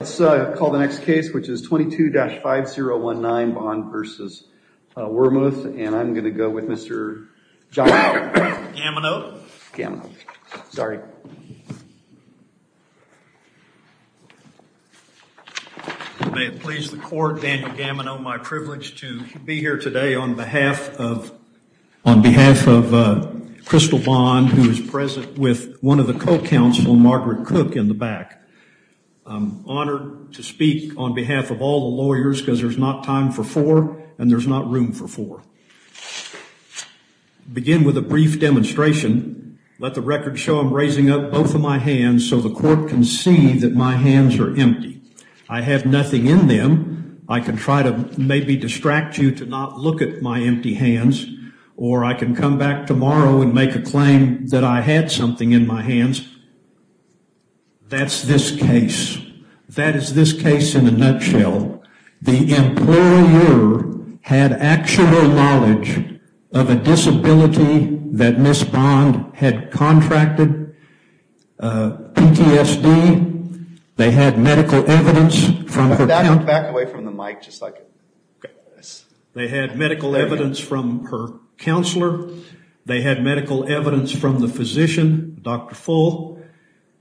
Let's call the next case, which is 22-5019 Bond v. Wormuth, and I'm going to go with Mr. Gamino. Gamino. Sorry. May it please the court, Daniel Gamino, my privilege to be here today on behalf of, on behalf of Crystal Bond, who is present with one of the co-counsel, Margaret Cook, in the back. I'm honored to speak on behalf of all the lawyers because there's not time for four and there's not room for four. Begin with a brief demonstration. Let the record show I'm raising up both of my hands so the court can see that my hands are empty. I have nothing in them. I can try to maybe distract you to not look at my empty hands, or I can come back tomorrow and make a claim that I had something in my hands. That's this case. That is this case in a nutshell. The employer had actual knowledge of a disability that Ms. Bond had contracted, PTSD. They had medical evidence from her counselor. Back away from the mic just a second. They had medical evidence from her counselor. They had medical evidence from the physician, Dr. Full.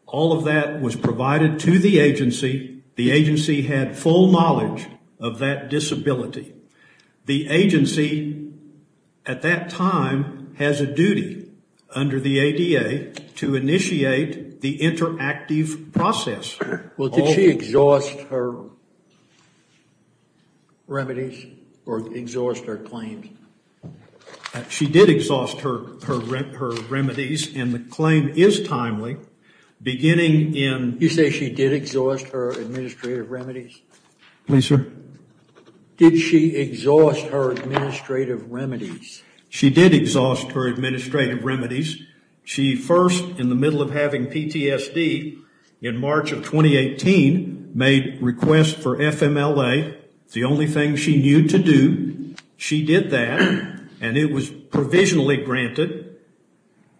All of that was provided to the agency. The agency had full knowledge of that disability. The agency at that time has a duty under the ADA to initiate the interactive process. Well, did she exhaust her remedies or exhaust her claims? She did exhaust her remedies, and the claim is timely, beginning in... You say she did exhaust her administrative remedies? Please, sir. Did she exhaust her administrative remedies? She did exhaust her administrative remedies. She first, in the middle of having PTSD in March of 2018, made requests for FMLA. It's the only thing she knew to do. She did that, and it was provisionally granted,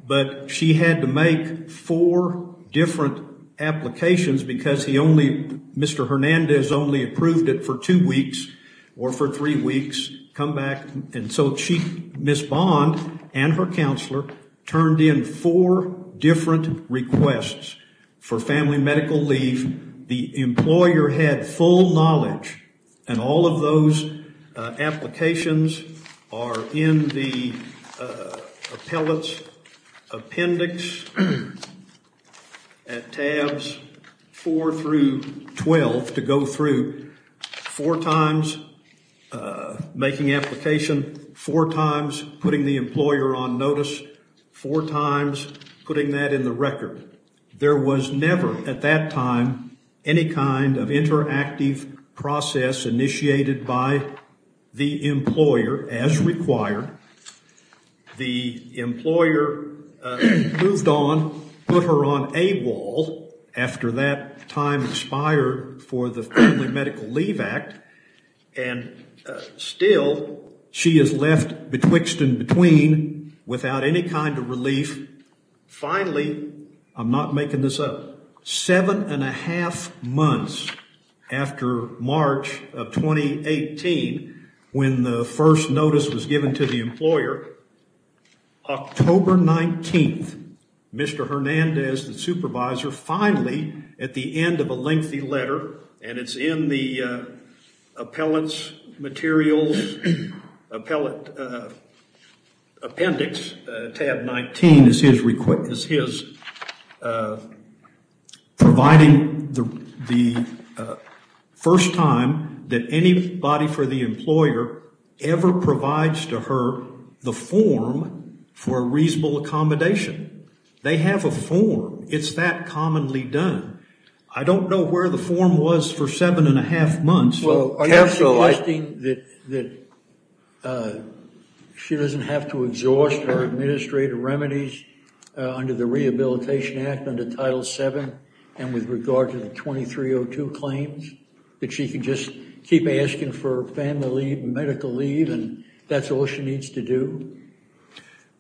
but she had to make four different applications because Mr. Hernandez only approved it for two weeks or for three weeks, come back. Ms. Bond and her counselor turned in four different requests for family medical leave. The employer had full knowledge, and all of those applications are in the appellate's appendix at tabs 4 through 12 to go through. Four times, making application. Four times, putting the employer on notice. Four times, putting that in the record. There was never, at that time, any kind of interactive process initiated by the employer, as required. The employer moved on, put her on AWOL, after that time expired for the Family Medical Leave Act, and still, she is left betwixt and between without any kind of relief. Finally, I'm not making this up, seven and a half months after March of 2018, when the first notice was given to the employer, October 19th, Mr. Hernandez, the supervisor, finally, at the end of a lengthy letter, and it's in the appellate's materials, appellate appendix, tab 19, is his providing the first time that anybody for the employer ever provides to her the form for a reasonable accommodation. They have a form. It's that commonly done. I don't know where the form was for seven and a half months. Well, are you suggesting that she doesn't have to exhaust her administrative remedies under the Rehabilitation Act, under Title VII, and with regard to the 2302 claims? That she can just keep asking for family medical leave, and that's all she needs to do?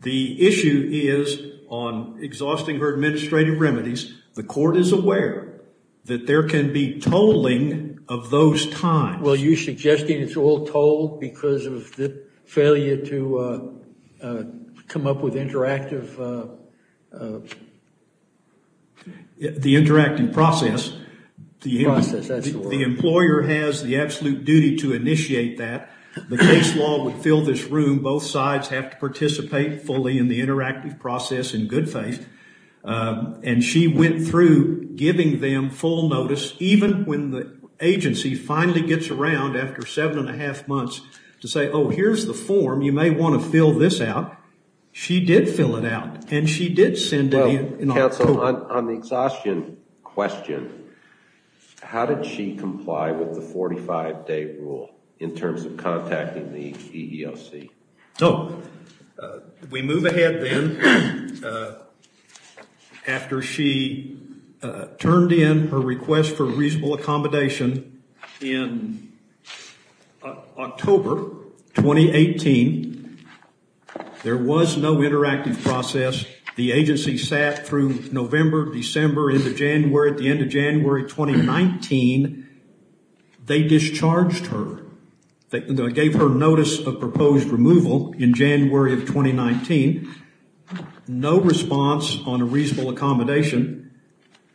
The issue is on exhausting her administrative remedies. The court is aware that there can be tolling of those times. Well, you're suggesting it's all tolled because of the failure to come up with interactive... The interactive process. The employer has the absolute duty to initiate that. The case law would fill this room. Both sides have to participate fully in the interactive process in good faith. And she went through giving them full notice, even when the agency finally gets around after seven and a half months, to say, oh, here's the form. You may want to fill this out. She did fill it out, and she did send it in. Counsel, on the exhaustion question, how did she comply with the 45-day rule in terms of contacting the EEOC? So, we move ahead then. After she turned in her request for reasonable accommodation in October 2018, there was no interactive process. The agency sat through November, December, into January. At the end of January 2019, they discharged her. They gave her notice of proposed removal in January of 2019. No response on a reasonable accommodation.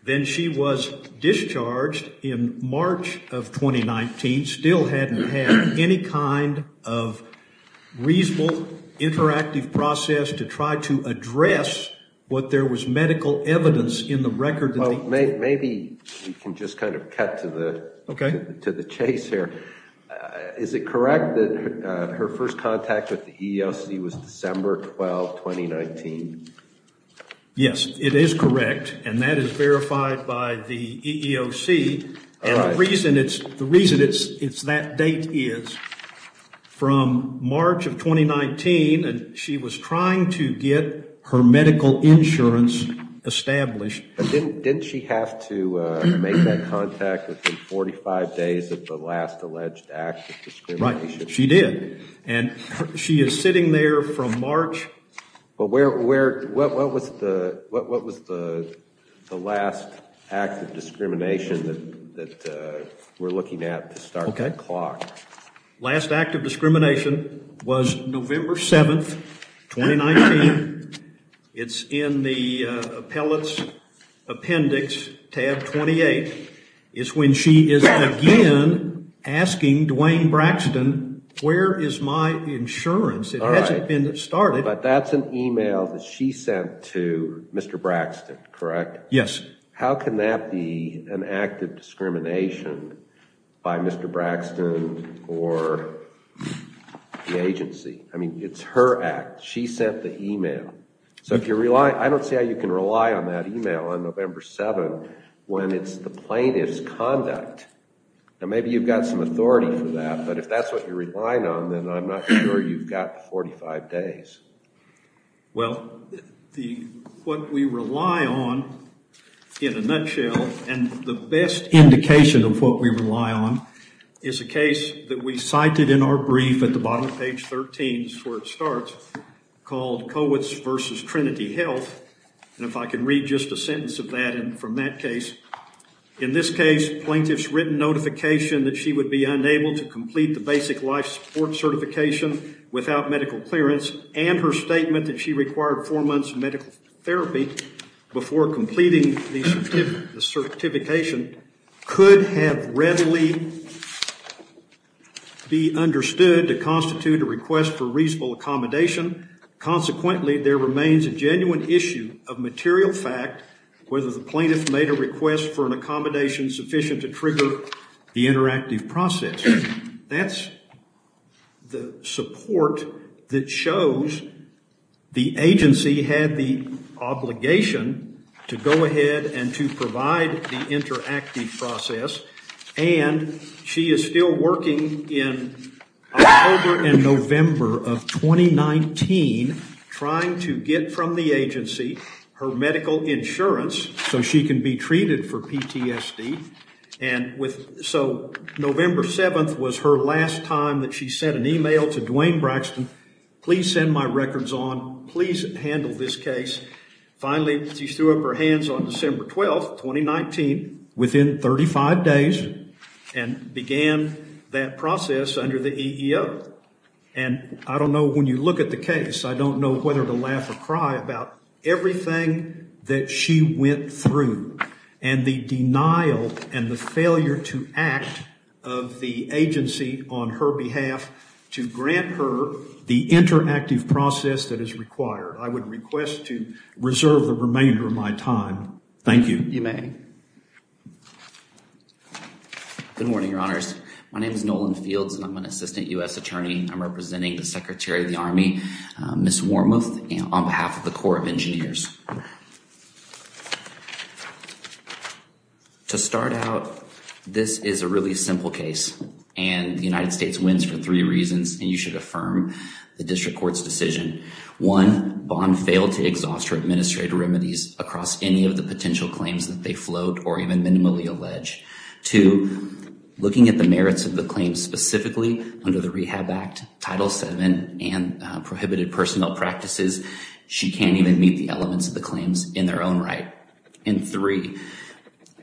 Then she was discharged in March of 2019. Still hadn't had any kind of reasonable interactive process to try to address what there was medical evidence in the record. Well, maybe we can just kind of cut to the chase here. Is it correct that her first contact with the EEOC was December 12, 2019? Yes, it is correct, and that is verified by the EEOC. And the reason it's that date is, from March of 2019, she was trying to get her medical insurance established. Didn't she have to make that contact within 45 days of the last alleged act of discrimination? Right, she did. She is sitting there from March. What was the last act of discrimination that we're looking at to start the clock? Last act of discrimination was November 7, 2019. It's in the appellate's appendix, tab 28. It's when she is again asking Dwayne Braxton, where is my insurance? It hasn't been started. But that's an email that she sent to Mr. Braxton, correct? Yes. How can that be an act of discrimination by Mr. Braxton or the agency? I mean, it's her act. She sent the email. I don't see how you can rely on that email on November 7 when it's the plaintiff's conduct. Maybe you've got some authority for that, but if that's what you're relying on, then I'm not sure you've got 45 days. Well, what we rely on, in a nutshell, and the best indication of what we rely on, is a case that we cited in our brief at the bottom of page 13. It's where it starts, called Kowitz v. Trinity Health. And if I can read just a sentence of that and from that case. In this case, plaintiff's written notification that she would be unable to complete the basic life support certification without medical clearance, and her statement that she required four months of medical therapy before completing the certification, could have readily be understood to constitute a request for reasonable accommodation. Consequently, there remains a genuine issue of material fact, whether the plaintiff made a request for an accommodation sufficient to trigger the interactive process. That's the support that shows the agency had the obligation to go ahead and to provide the interactive process, and she is still working in October and November of 2019, trying to get from the agency her medical insurance, so she can be treated for PTSD. So, November 7th was her last time that she sent an email to Duane Braxton, please send my records on, please handle this case. Finally, she threw up her hands on December 12th, 2019, within 35 days, and began that process under the EEO. And I don't know, when you look at the case, I don't know whether to laugh or cry about everything that she went through, and the denial and the failure to act of the agency on her behalf, to grant her the interactive process that is required. I would request to reserve the remainder of my time. Thank you. You may. Good morning, Your Honors. My name is Nolan Fields, and I'm an Assistant U.S. Attorney. I'm representing the Secretary of the Army, Ms. Wormuth, on behalf of the Corps of Engineers. To start out, this is a really simple case, and the United States wins for three reasons, and you should affirm the District Court's decision. One, Bond failed to exhaust her administrative remedies across any of the potential claims that they float, or even minimally allege. Two, looking at the merits of the claims specifically, under the Rehab Act, Title VII, and prohibited personnel practices, she can't even meet the elements of the claims in their own right. And three,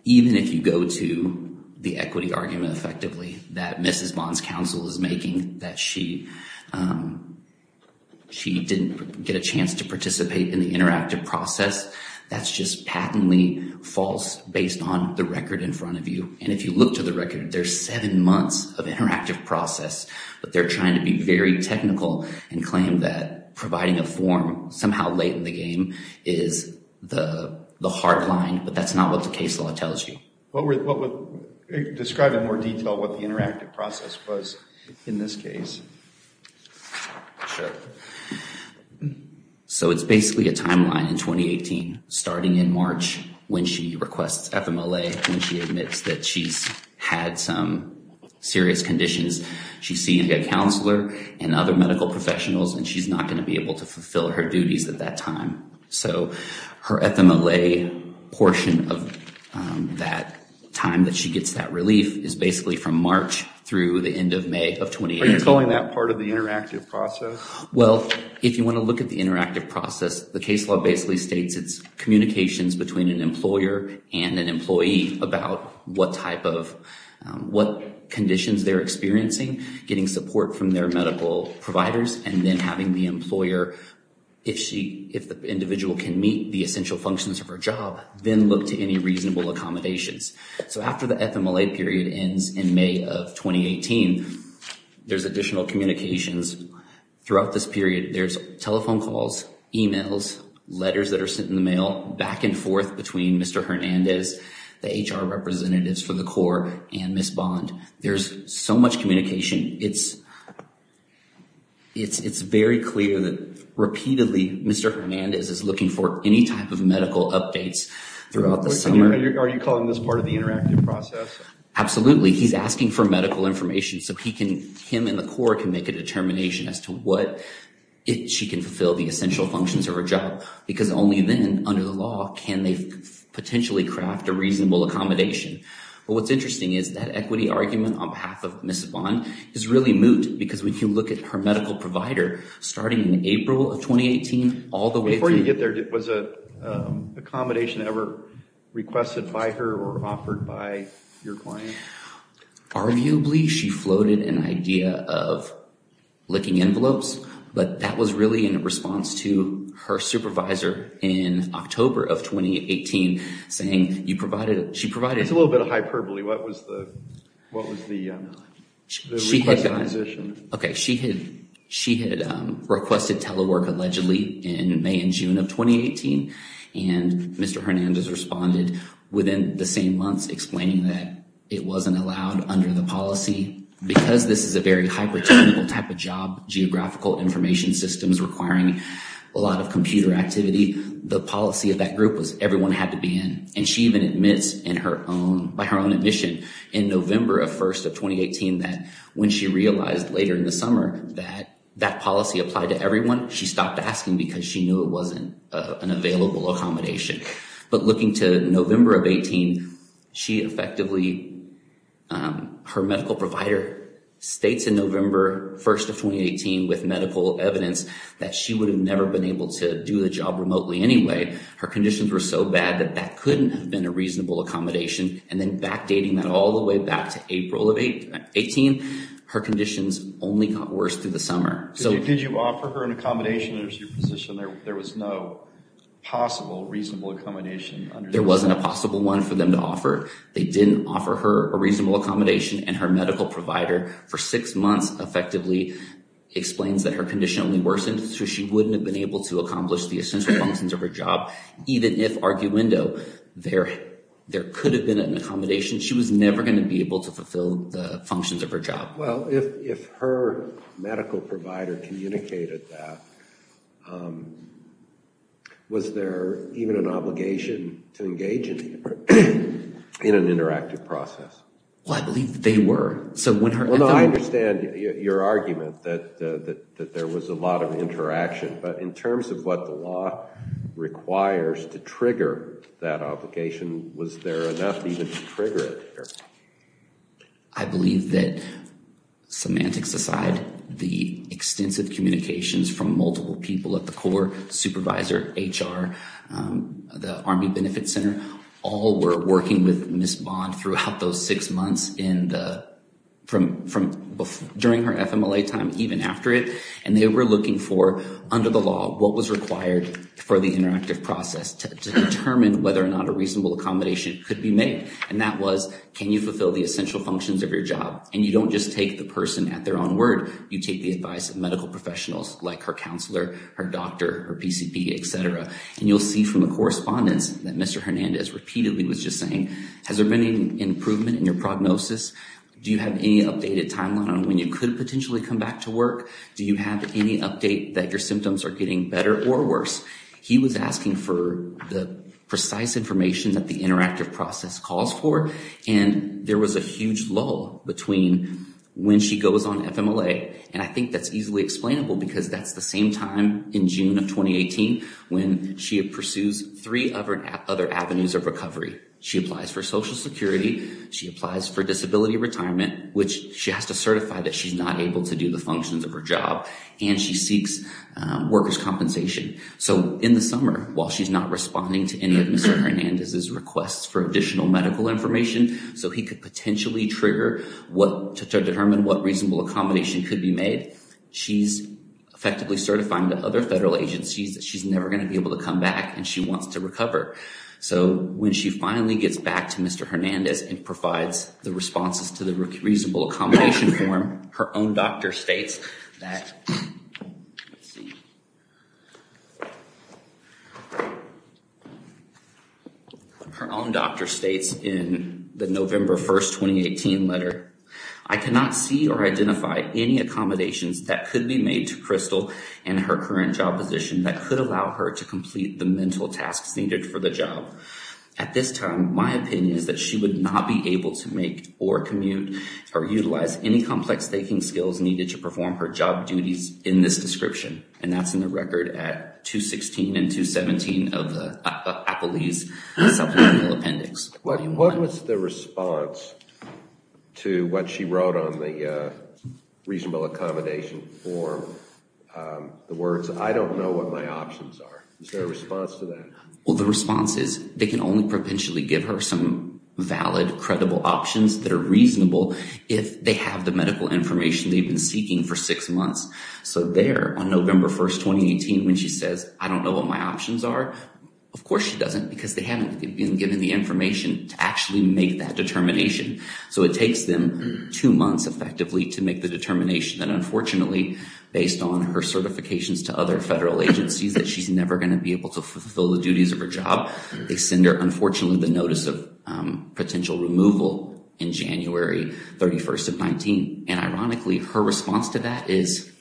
even if you go to the equity argument, effectively, that Mrs. Bond's counsel is making, that she didn't get a chance to participate in the interactive process, that's just patently false, based on the record in front of you. And if you look to the record, there's seven months of interactive process, but they're trying to be very technical and claim that providing a form somehow late in the game is the hard line, but that's not what the case law tells you. Describe in more detail what the interactive process was in this case. Sure. So it's basically a timeline in 2018, starting in March, when she requests FMLA, when she admits that she's had some serious conditions. She's seeing a counselor and other medical professionals, and she's not going to be able to fulfill her duties at that time. So her FMLA portion of that time that she gets that relief is basically from March through the end of May of 2018. Are you calling that part of the interactive process? Well, if you want to look at the interactive process, the case law basically states it's communications between an employer and an employee about what conditions they're experiencing, getting support from their medical providers, and then having the employer, if the individual can meet the essential functions of her job, then look to any reasonable accommodations. So after the FMLA period ends in May of 2018, there's additional communications. Throughout this period, there's telephone calls, emails, letters that are sent in the mail, back and forth between Mr. Hernandez, the HR representatives for the Corps, and Ms. Bond. There's so much communication. It's very clear that, repeatedly, Mr. Hernandez is looking for any type of medical updates throughout the summer. Are you calling this part of the interactive process? Absolutely. He's asking for medical information so he can, him and the Corps, can make a determination as to what, if she can fulfill the essential functions of her job. Because only then, under the law, can they potentially craft a reasonable accommodation. But what's interesting is that equity argument on behalf of Ms. Bond is really moot. Because when you look at her medical provider, starting in April of 2018, all the way through... Before you get there, was an accommodation ever requested by her or offered by your client? Arguably, she floated an idea of licking envelopes. But that was really in response to her supervisor, in October of 2018, saying, you provided... That's a little bit of hyperbole. What was the request of acquisition? Okay. She had requested telework, allegedly, in May and June of 2018. And Mr. Hernandez responded within the same months, explaining that it wasn't allowed under the policy. Because this is a very hypertechnical type of job, geographical information systems requiring a lot of computer activity, the policy of that group was everyone had to be in. And she even admits in her own... By her own admission, in November 1st of 2018, that when she realized later in the summer that that policy applied to everyone, she stopped asking because she knew it wasn't an available accommodation. But looking to November of 2018, she effectively... Her medical provider states in November 1st of 2018 with medical evidence that she would have never been able to do the job remotely anyway. Her conditions were so bad that that couldn't have been a reasonable accommodation. And then backdating that all the way back to April of 2018, her conditions only got worse through the summer. Did you offer her an accommodation as your position? There was no possible reasonable accommodation? There wasn't a possible one for them to offer. They didn't offer her a reasonable accommodation. And her medical provider, for six months, effectively explains that her condition only worsened so she wouldn't have been able to accomplish the essential functions of her job. Even if arguendo, there could have been an accommodation. She was never going to be able to fulfill the functions of her job. Well, if her medical provider communicated that, was there even an obligation to engage in an interactive process? Well, I believe that they were. Well, no, I understand your argument that there was a lot of interaction. But in terms of what the law requires to trigger that obligation, was there enough even to trigger it? I believe that, semantics aside, the extensive communications from multiple people at the core, supervisor, HR, the Army Benefit Center, all were working with Ms. Bond throughout those six months during her FMLA time, even after it. And they were looking for, under the law, what was required for the interactive process to determine whether or not a reasonable accommodation could be made. And that was, can you fulfill the essential functions of your job? And you don't just take the person at their own word. You take the advice of medical professionals like her counselor, her doctor, her PCP, etc. And you'll see from the correspondence that Mr. Hernandez repeatedly was just saying, has there been any improvement in your prognosis? Do you have any updated timeline on when you could potentially come back to work? Do you have any update that your symptoms are getting better or worse? He was asking for the precise information that the interactive process calls for, and there was a huge lull between when she goes on FMLA, and I think that's easily explainable because that's the same time in June of 2018 when she pursues three other avenues of recovery. She applies for Social Security, she applies for disability retirement, which she has to certify that she's not able to do the functions of her job, and she seeks workers' compensation. So in the summer, while she's not responding to any of Mr. Hernandez's requests for additional medical information, so he could potentially trigger to determine what reasonable accommodation could be made, she's effectively certifying to other federal agencies that she's never going to be able to come back, and she wants to recover. So when she finally gets back to Mr. Hernandez and provides the responses to the reasonable accommodation form, her own doctor states in the November 1, 2018 letter, I cannot see or identify any accommodations that could be made to Crystal in her current job position that could allow her to complete the mental tasks needed for the job. At this time, my opinion is that she would not be able to make or commute, or utilize any complex thinking skills needed to perform her job duties in this description, and that's in the record at 216 and 217 of the Appellee's Supplemental Appendix. What was the response to what she wrote on the reasonable accommodation form? The words, I don't know what my options are. Is there a response to that? Well, the response is, they can only potentially give her some valid, credible options that are reasonable if they have the medical information they've been seeking for six months. So there, on November 1, 2018, when she says, I don't know what my options are, of course she doesn't, because they haven't been given the information to actually make that determination. So it takes them two months, effectively, to make the determination that, unfortunately, based on her certifications to other federal agencies, that she's never going to be able to fulfill the duties of her job. They send her, unfortunately, the notice of potential removal in January 31, 2019. And ironically, her response to that is,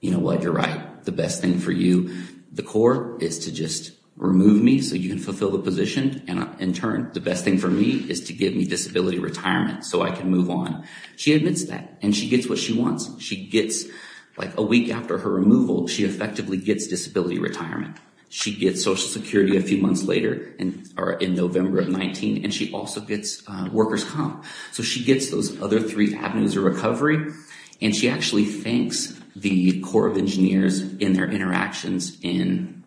you know what, you're right. The best thing for you, the court, is to just remove me so you can fulfill the position, and in turn, the best thing for me is to give me disability retirement so I can move on. She admits that, and she gets what she wants. She gets, like a week after her removal, she effectively gets disability retirement. She gets Social Security a few months later, in November of 19, and she also gets workers' comp. So she gets those other three avenues of recovery, and she actually thanks the Corps of Engineers in their interactions in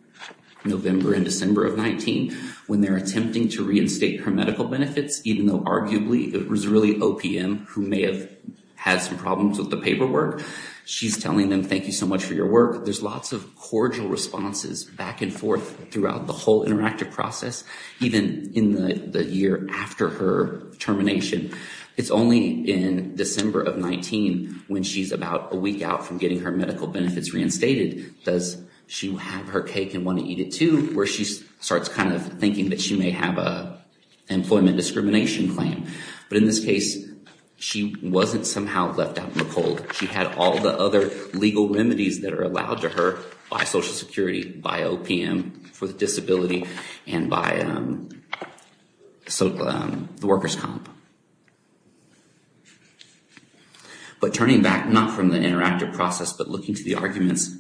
November and December of 19, when they're attempting to reinstate her medical benefits, even though, arguably, it was really OPM who may have had some problems with the paperwork. She's telling them, thank you so much for your work. There's lots of cordial responses back and forth throughout the whole interactive process, even in the year after her termination. It's only in December of 19, when she's about a week out from getting her medical benefits reinstated, does she have her cake and want to eat it too, where she starts kind of thinking that she may have an employment discrimination claim. But in this case, she wasn't somehow left out in the cold. She had all the other legal remedies that are allowed to her by Social Security, by OPM for the disability, and by the workers' comp. But turning back, not from the interactive process, but looking to the arguments,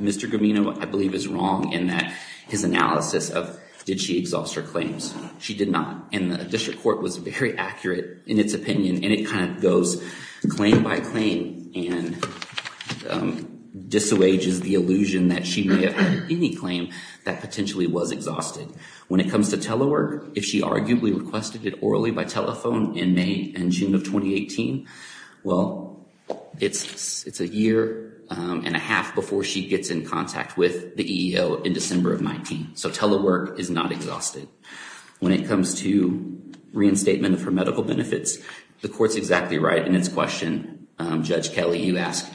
Mr. Gamino, I believe, is wrong in that his analysis of, did she exhaust her claims? She did not. And the district court was very accurate in its opinion, and it kind of goes claim by claim and disavows the illusion that she may have had any claim that potentially was exhausted. When it comes to telework, if she arguably requested it orally by telephone in May and June of 2018, well, it's a year and a half before she gets in contact with the EEO in December of 19. So telework is not exhausted. When it comes to reinstatement of her medical benefits, the court's exactly right in its question. Judge Kelly, you asked,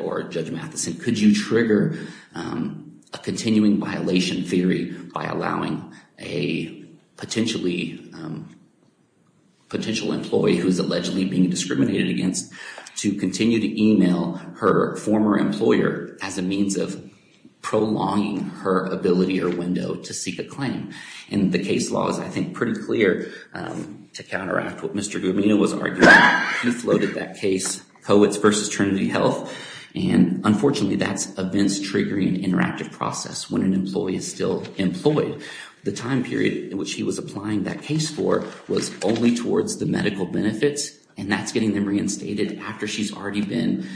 or Judge Matheson, could you trigger a continuing violation theory by allowing a potential employee who is allegedly being discriminated against to continue to email her former employer as a means of prolonging her ability or window to seek a claim? And the case law is, I think, pretty clear to counteract what Mr. Gamino was arguing. He floated that case, Coetts v. Trinity Health, and unfortunately, that's events triggering an interactive process when an employee is still employed. The time period in which he was applying that case for was only towards the medical benefits, and that's getting them reinstated after she's already been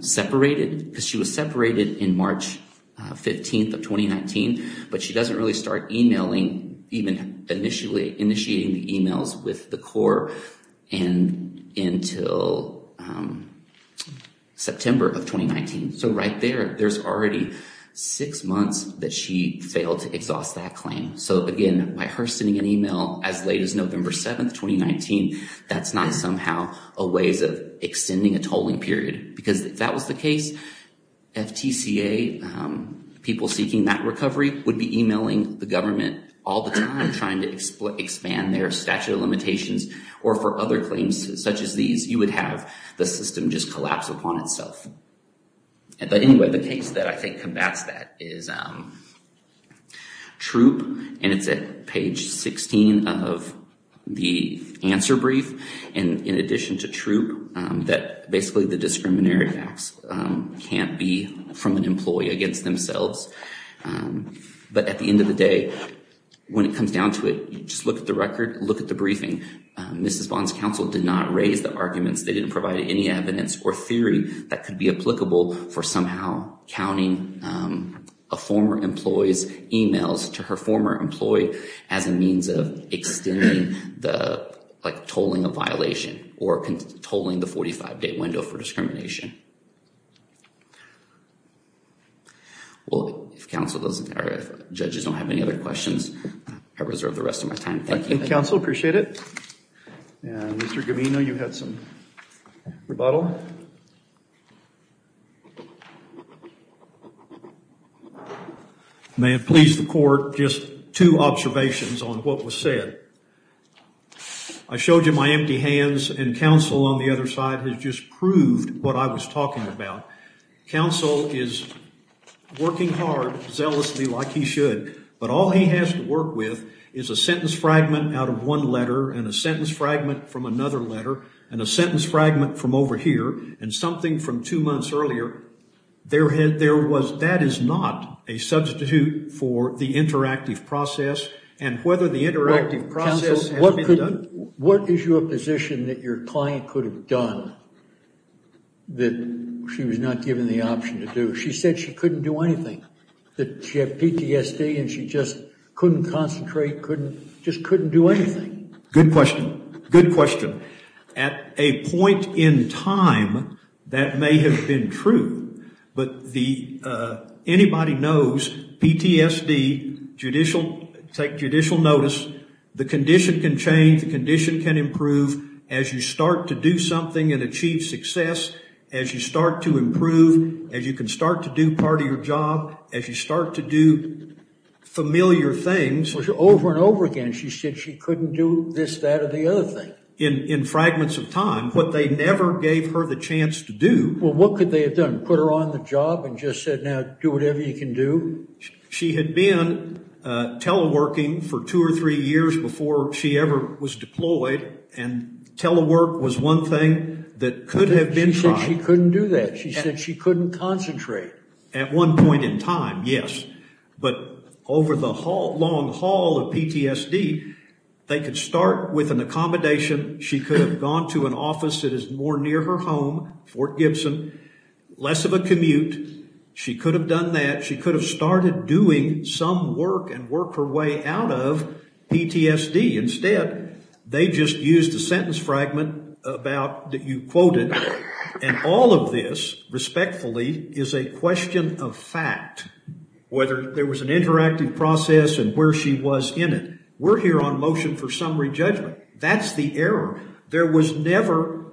separated. Because she was separated in March 15th of 2019, but she doesn't really start emailing, even initiating the emails with the court until September of 2019. So right there, there's already six months that she failed to exhaust that claim. So again, by her sending an email as late as November 7th, 2019, that's not somehow a ways of extending a tolling period. Because if that was the case, FTCA, people seeking that recovery, would be emailing the government all the time trying to expand their statute of limitations or for other claims such as these, you would have the system just collapse upon itself. But anyway, the case that I think combats that is Troup, and it's at page 16 of the answer brief. And in addition to Troup, that basically the discriminatory facts can't be from an employee against themselves. But at the end of the day, when it comes down to it, just look at the record, look at the briefing. Mrs. Bond's counsel did not raise the arguments. They didn't provide any evidence or theory that could be applicable for somehow counting a former employee's emails to her former employee as a means of extending the tolling of violation or tolling the 45-day window for discrimination. Well, if counsel doesn't, or judges don't have any other questions, I reserve the rest of my time. Thank you. Counsel, appreciate it. And Mr. Gavino, you had some rebuttal? May it please the court, just two observations on what was said. I showed you my empty hands, and counsel on the other side has just proved what I was talking about. Counsel is working hard, zealously like he should, but all he has to work with is a sentence fragment out of one letter and a sentence fragment from another letter and a sentence fragment from over here and something from two months earlier. That is not a substitute for the interactive process, and whether the interactive process has been done. Mr. Gavino, what is your position that your client could have done that she was not given the option to do? She said she couldn't do anything, that she had PTSD and she just couldn't concentrate, just couldn't do anything. Good question. Good question. At a point in time, that may have been true, but anybody knows PTSD, judicial, take judicial notice, the condition can change, the condition can improve, as you start to do something and achieve success, as you start to improve, as you can start to do part of your job, as you start to do familiar things. Over and over again, she said she couldn't do this, that, or the other thing. In fragments of time, what they never gave her the chance to do. Well, what could they have done, put her on the job and just said, now do whatever you can do? She had been teleworking for two or three years before she ever was deployed, and telework was one thing that could have been tried. She said she couldn't do that. She said she couldn't concentrate. At one point in time, yes. But over the long haul of PTSD, they could start with an accommodation. She could have gone to an office that is more near her home, Fort Gibson, less of a commute. She could have done that. She could have started doing some work and worked her way out of PTSD. Instead, they just used a sentence fragment that you quoted, and all of this, respectfully, is a question of fact, whether there was an interactive process and where she was in it. We're here on motion for summary judgment. That's the error. There was never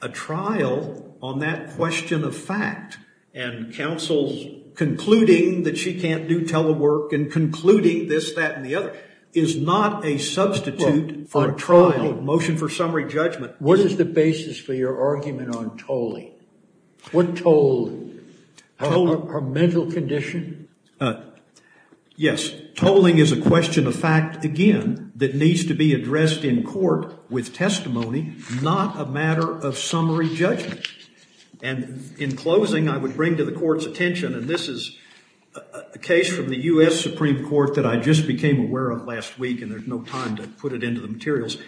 a trial on that question of fact. And counsel concluding that she can't do telework and concluding this, that, and the other is not a substitute for a trial. Motion for summary judgment. What is the basis for your argument on tolling? What tolling? Her mental condition? Yes. Tolling is a question of fact, again, that needs to be addressed in court with testimony, not a matter of summary judgment. And in closing, I would bring to the court's attention, and this is a case from the U.S. Supreme Court that I just became aware of last week, and there's no time to put it into the materials.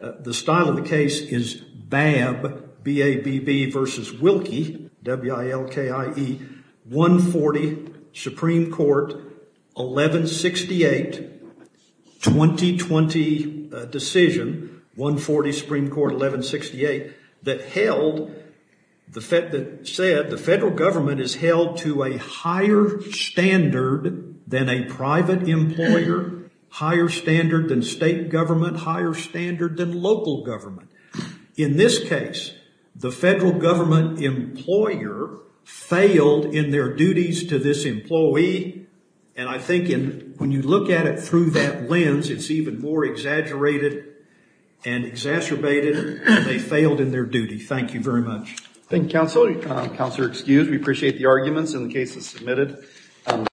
The style of the case is Babb, B-A-B-B, versus Wilkie, W-I-L-K-I-E, 140 Supreme Court 1168, 2020 decision, 140 Supreme Court 1168, that held, that said, the federal government is held to a higher standard than a private employer, higher standard than state government, higher standard than local government. In this case, the federal government employer failed in their duties to this employee, and I think when you look at it through that lens, it's even more exaggerated and exacerbated than they failed in their duty. Thank you very much. Thank you, counsel. Counselor, excused. We appreciate the arguments in the cases submitted.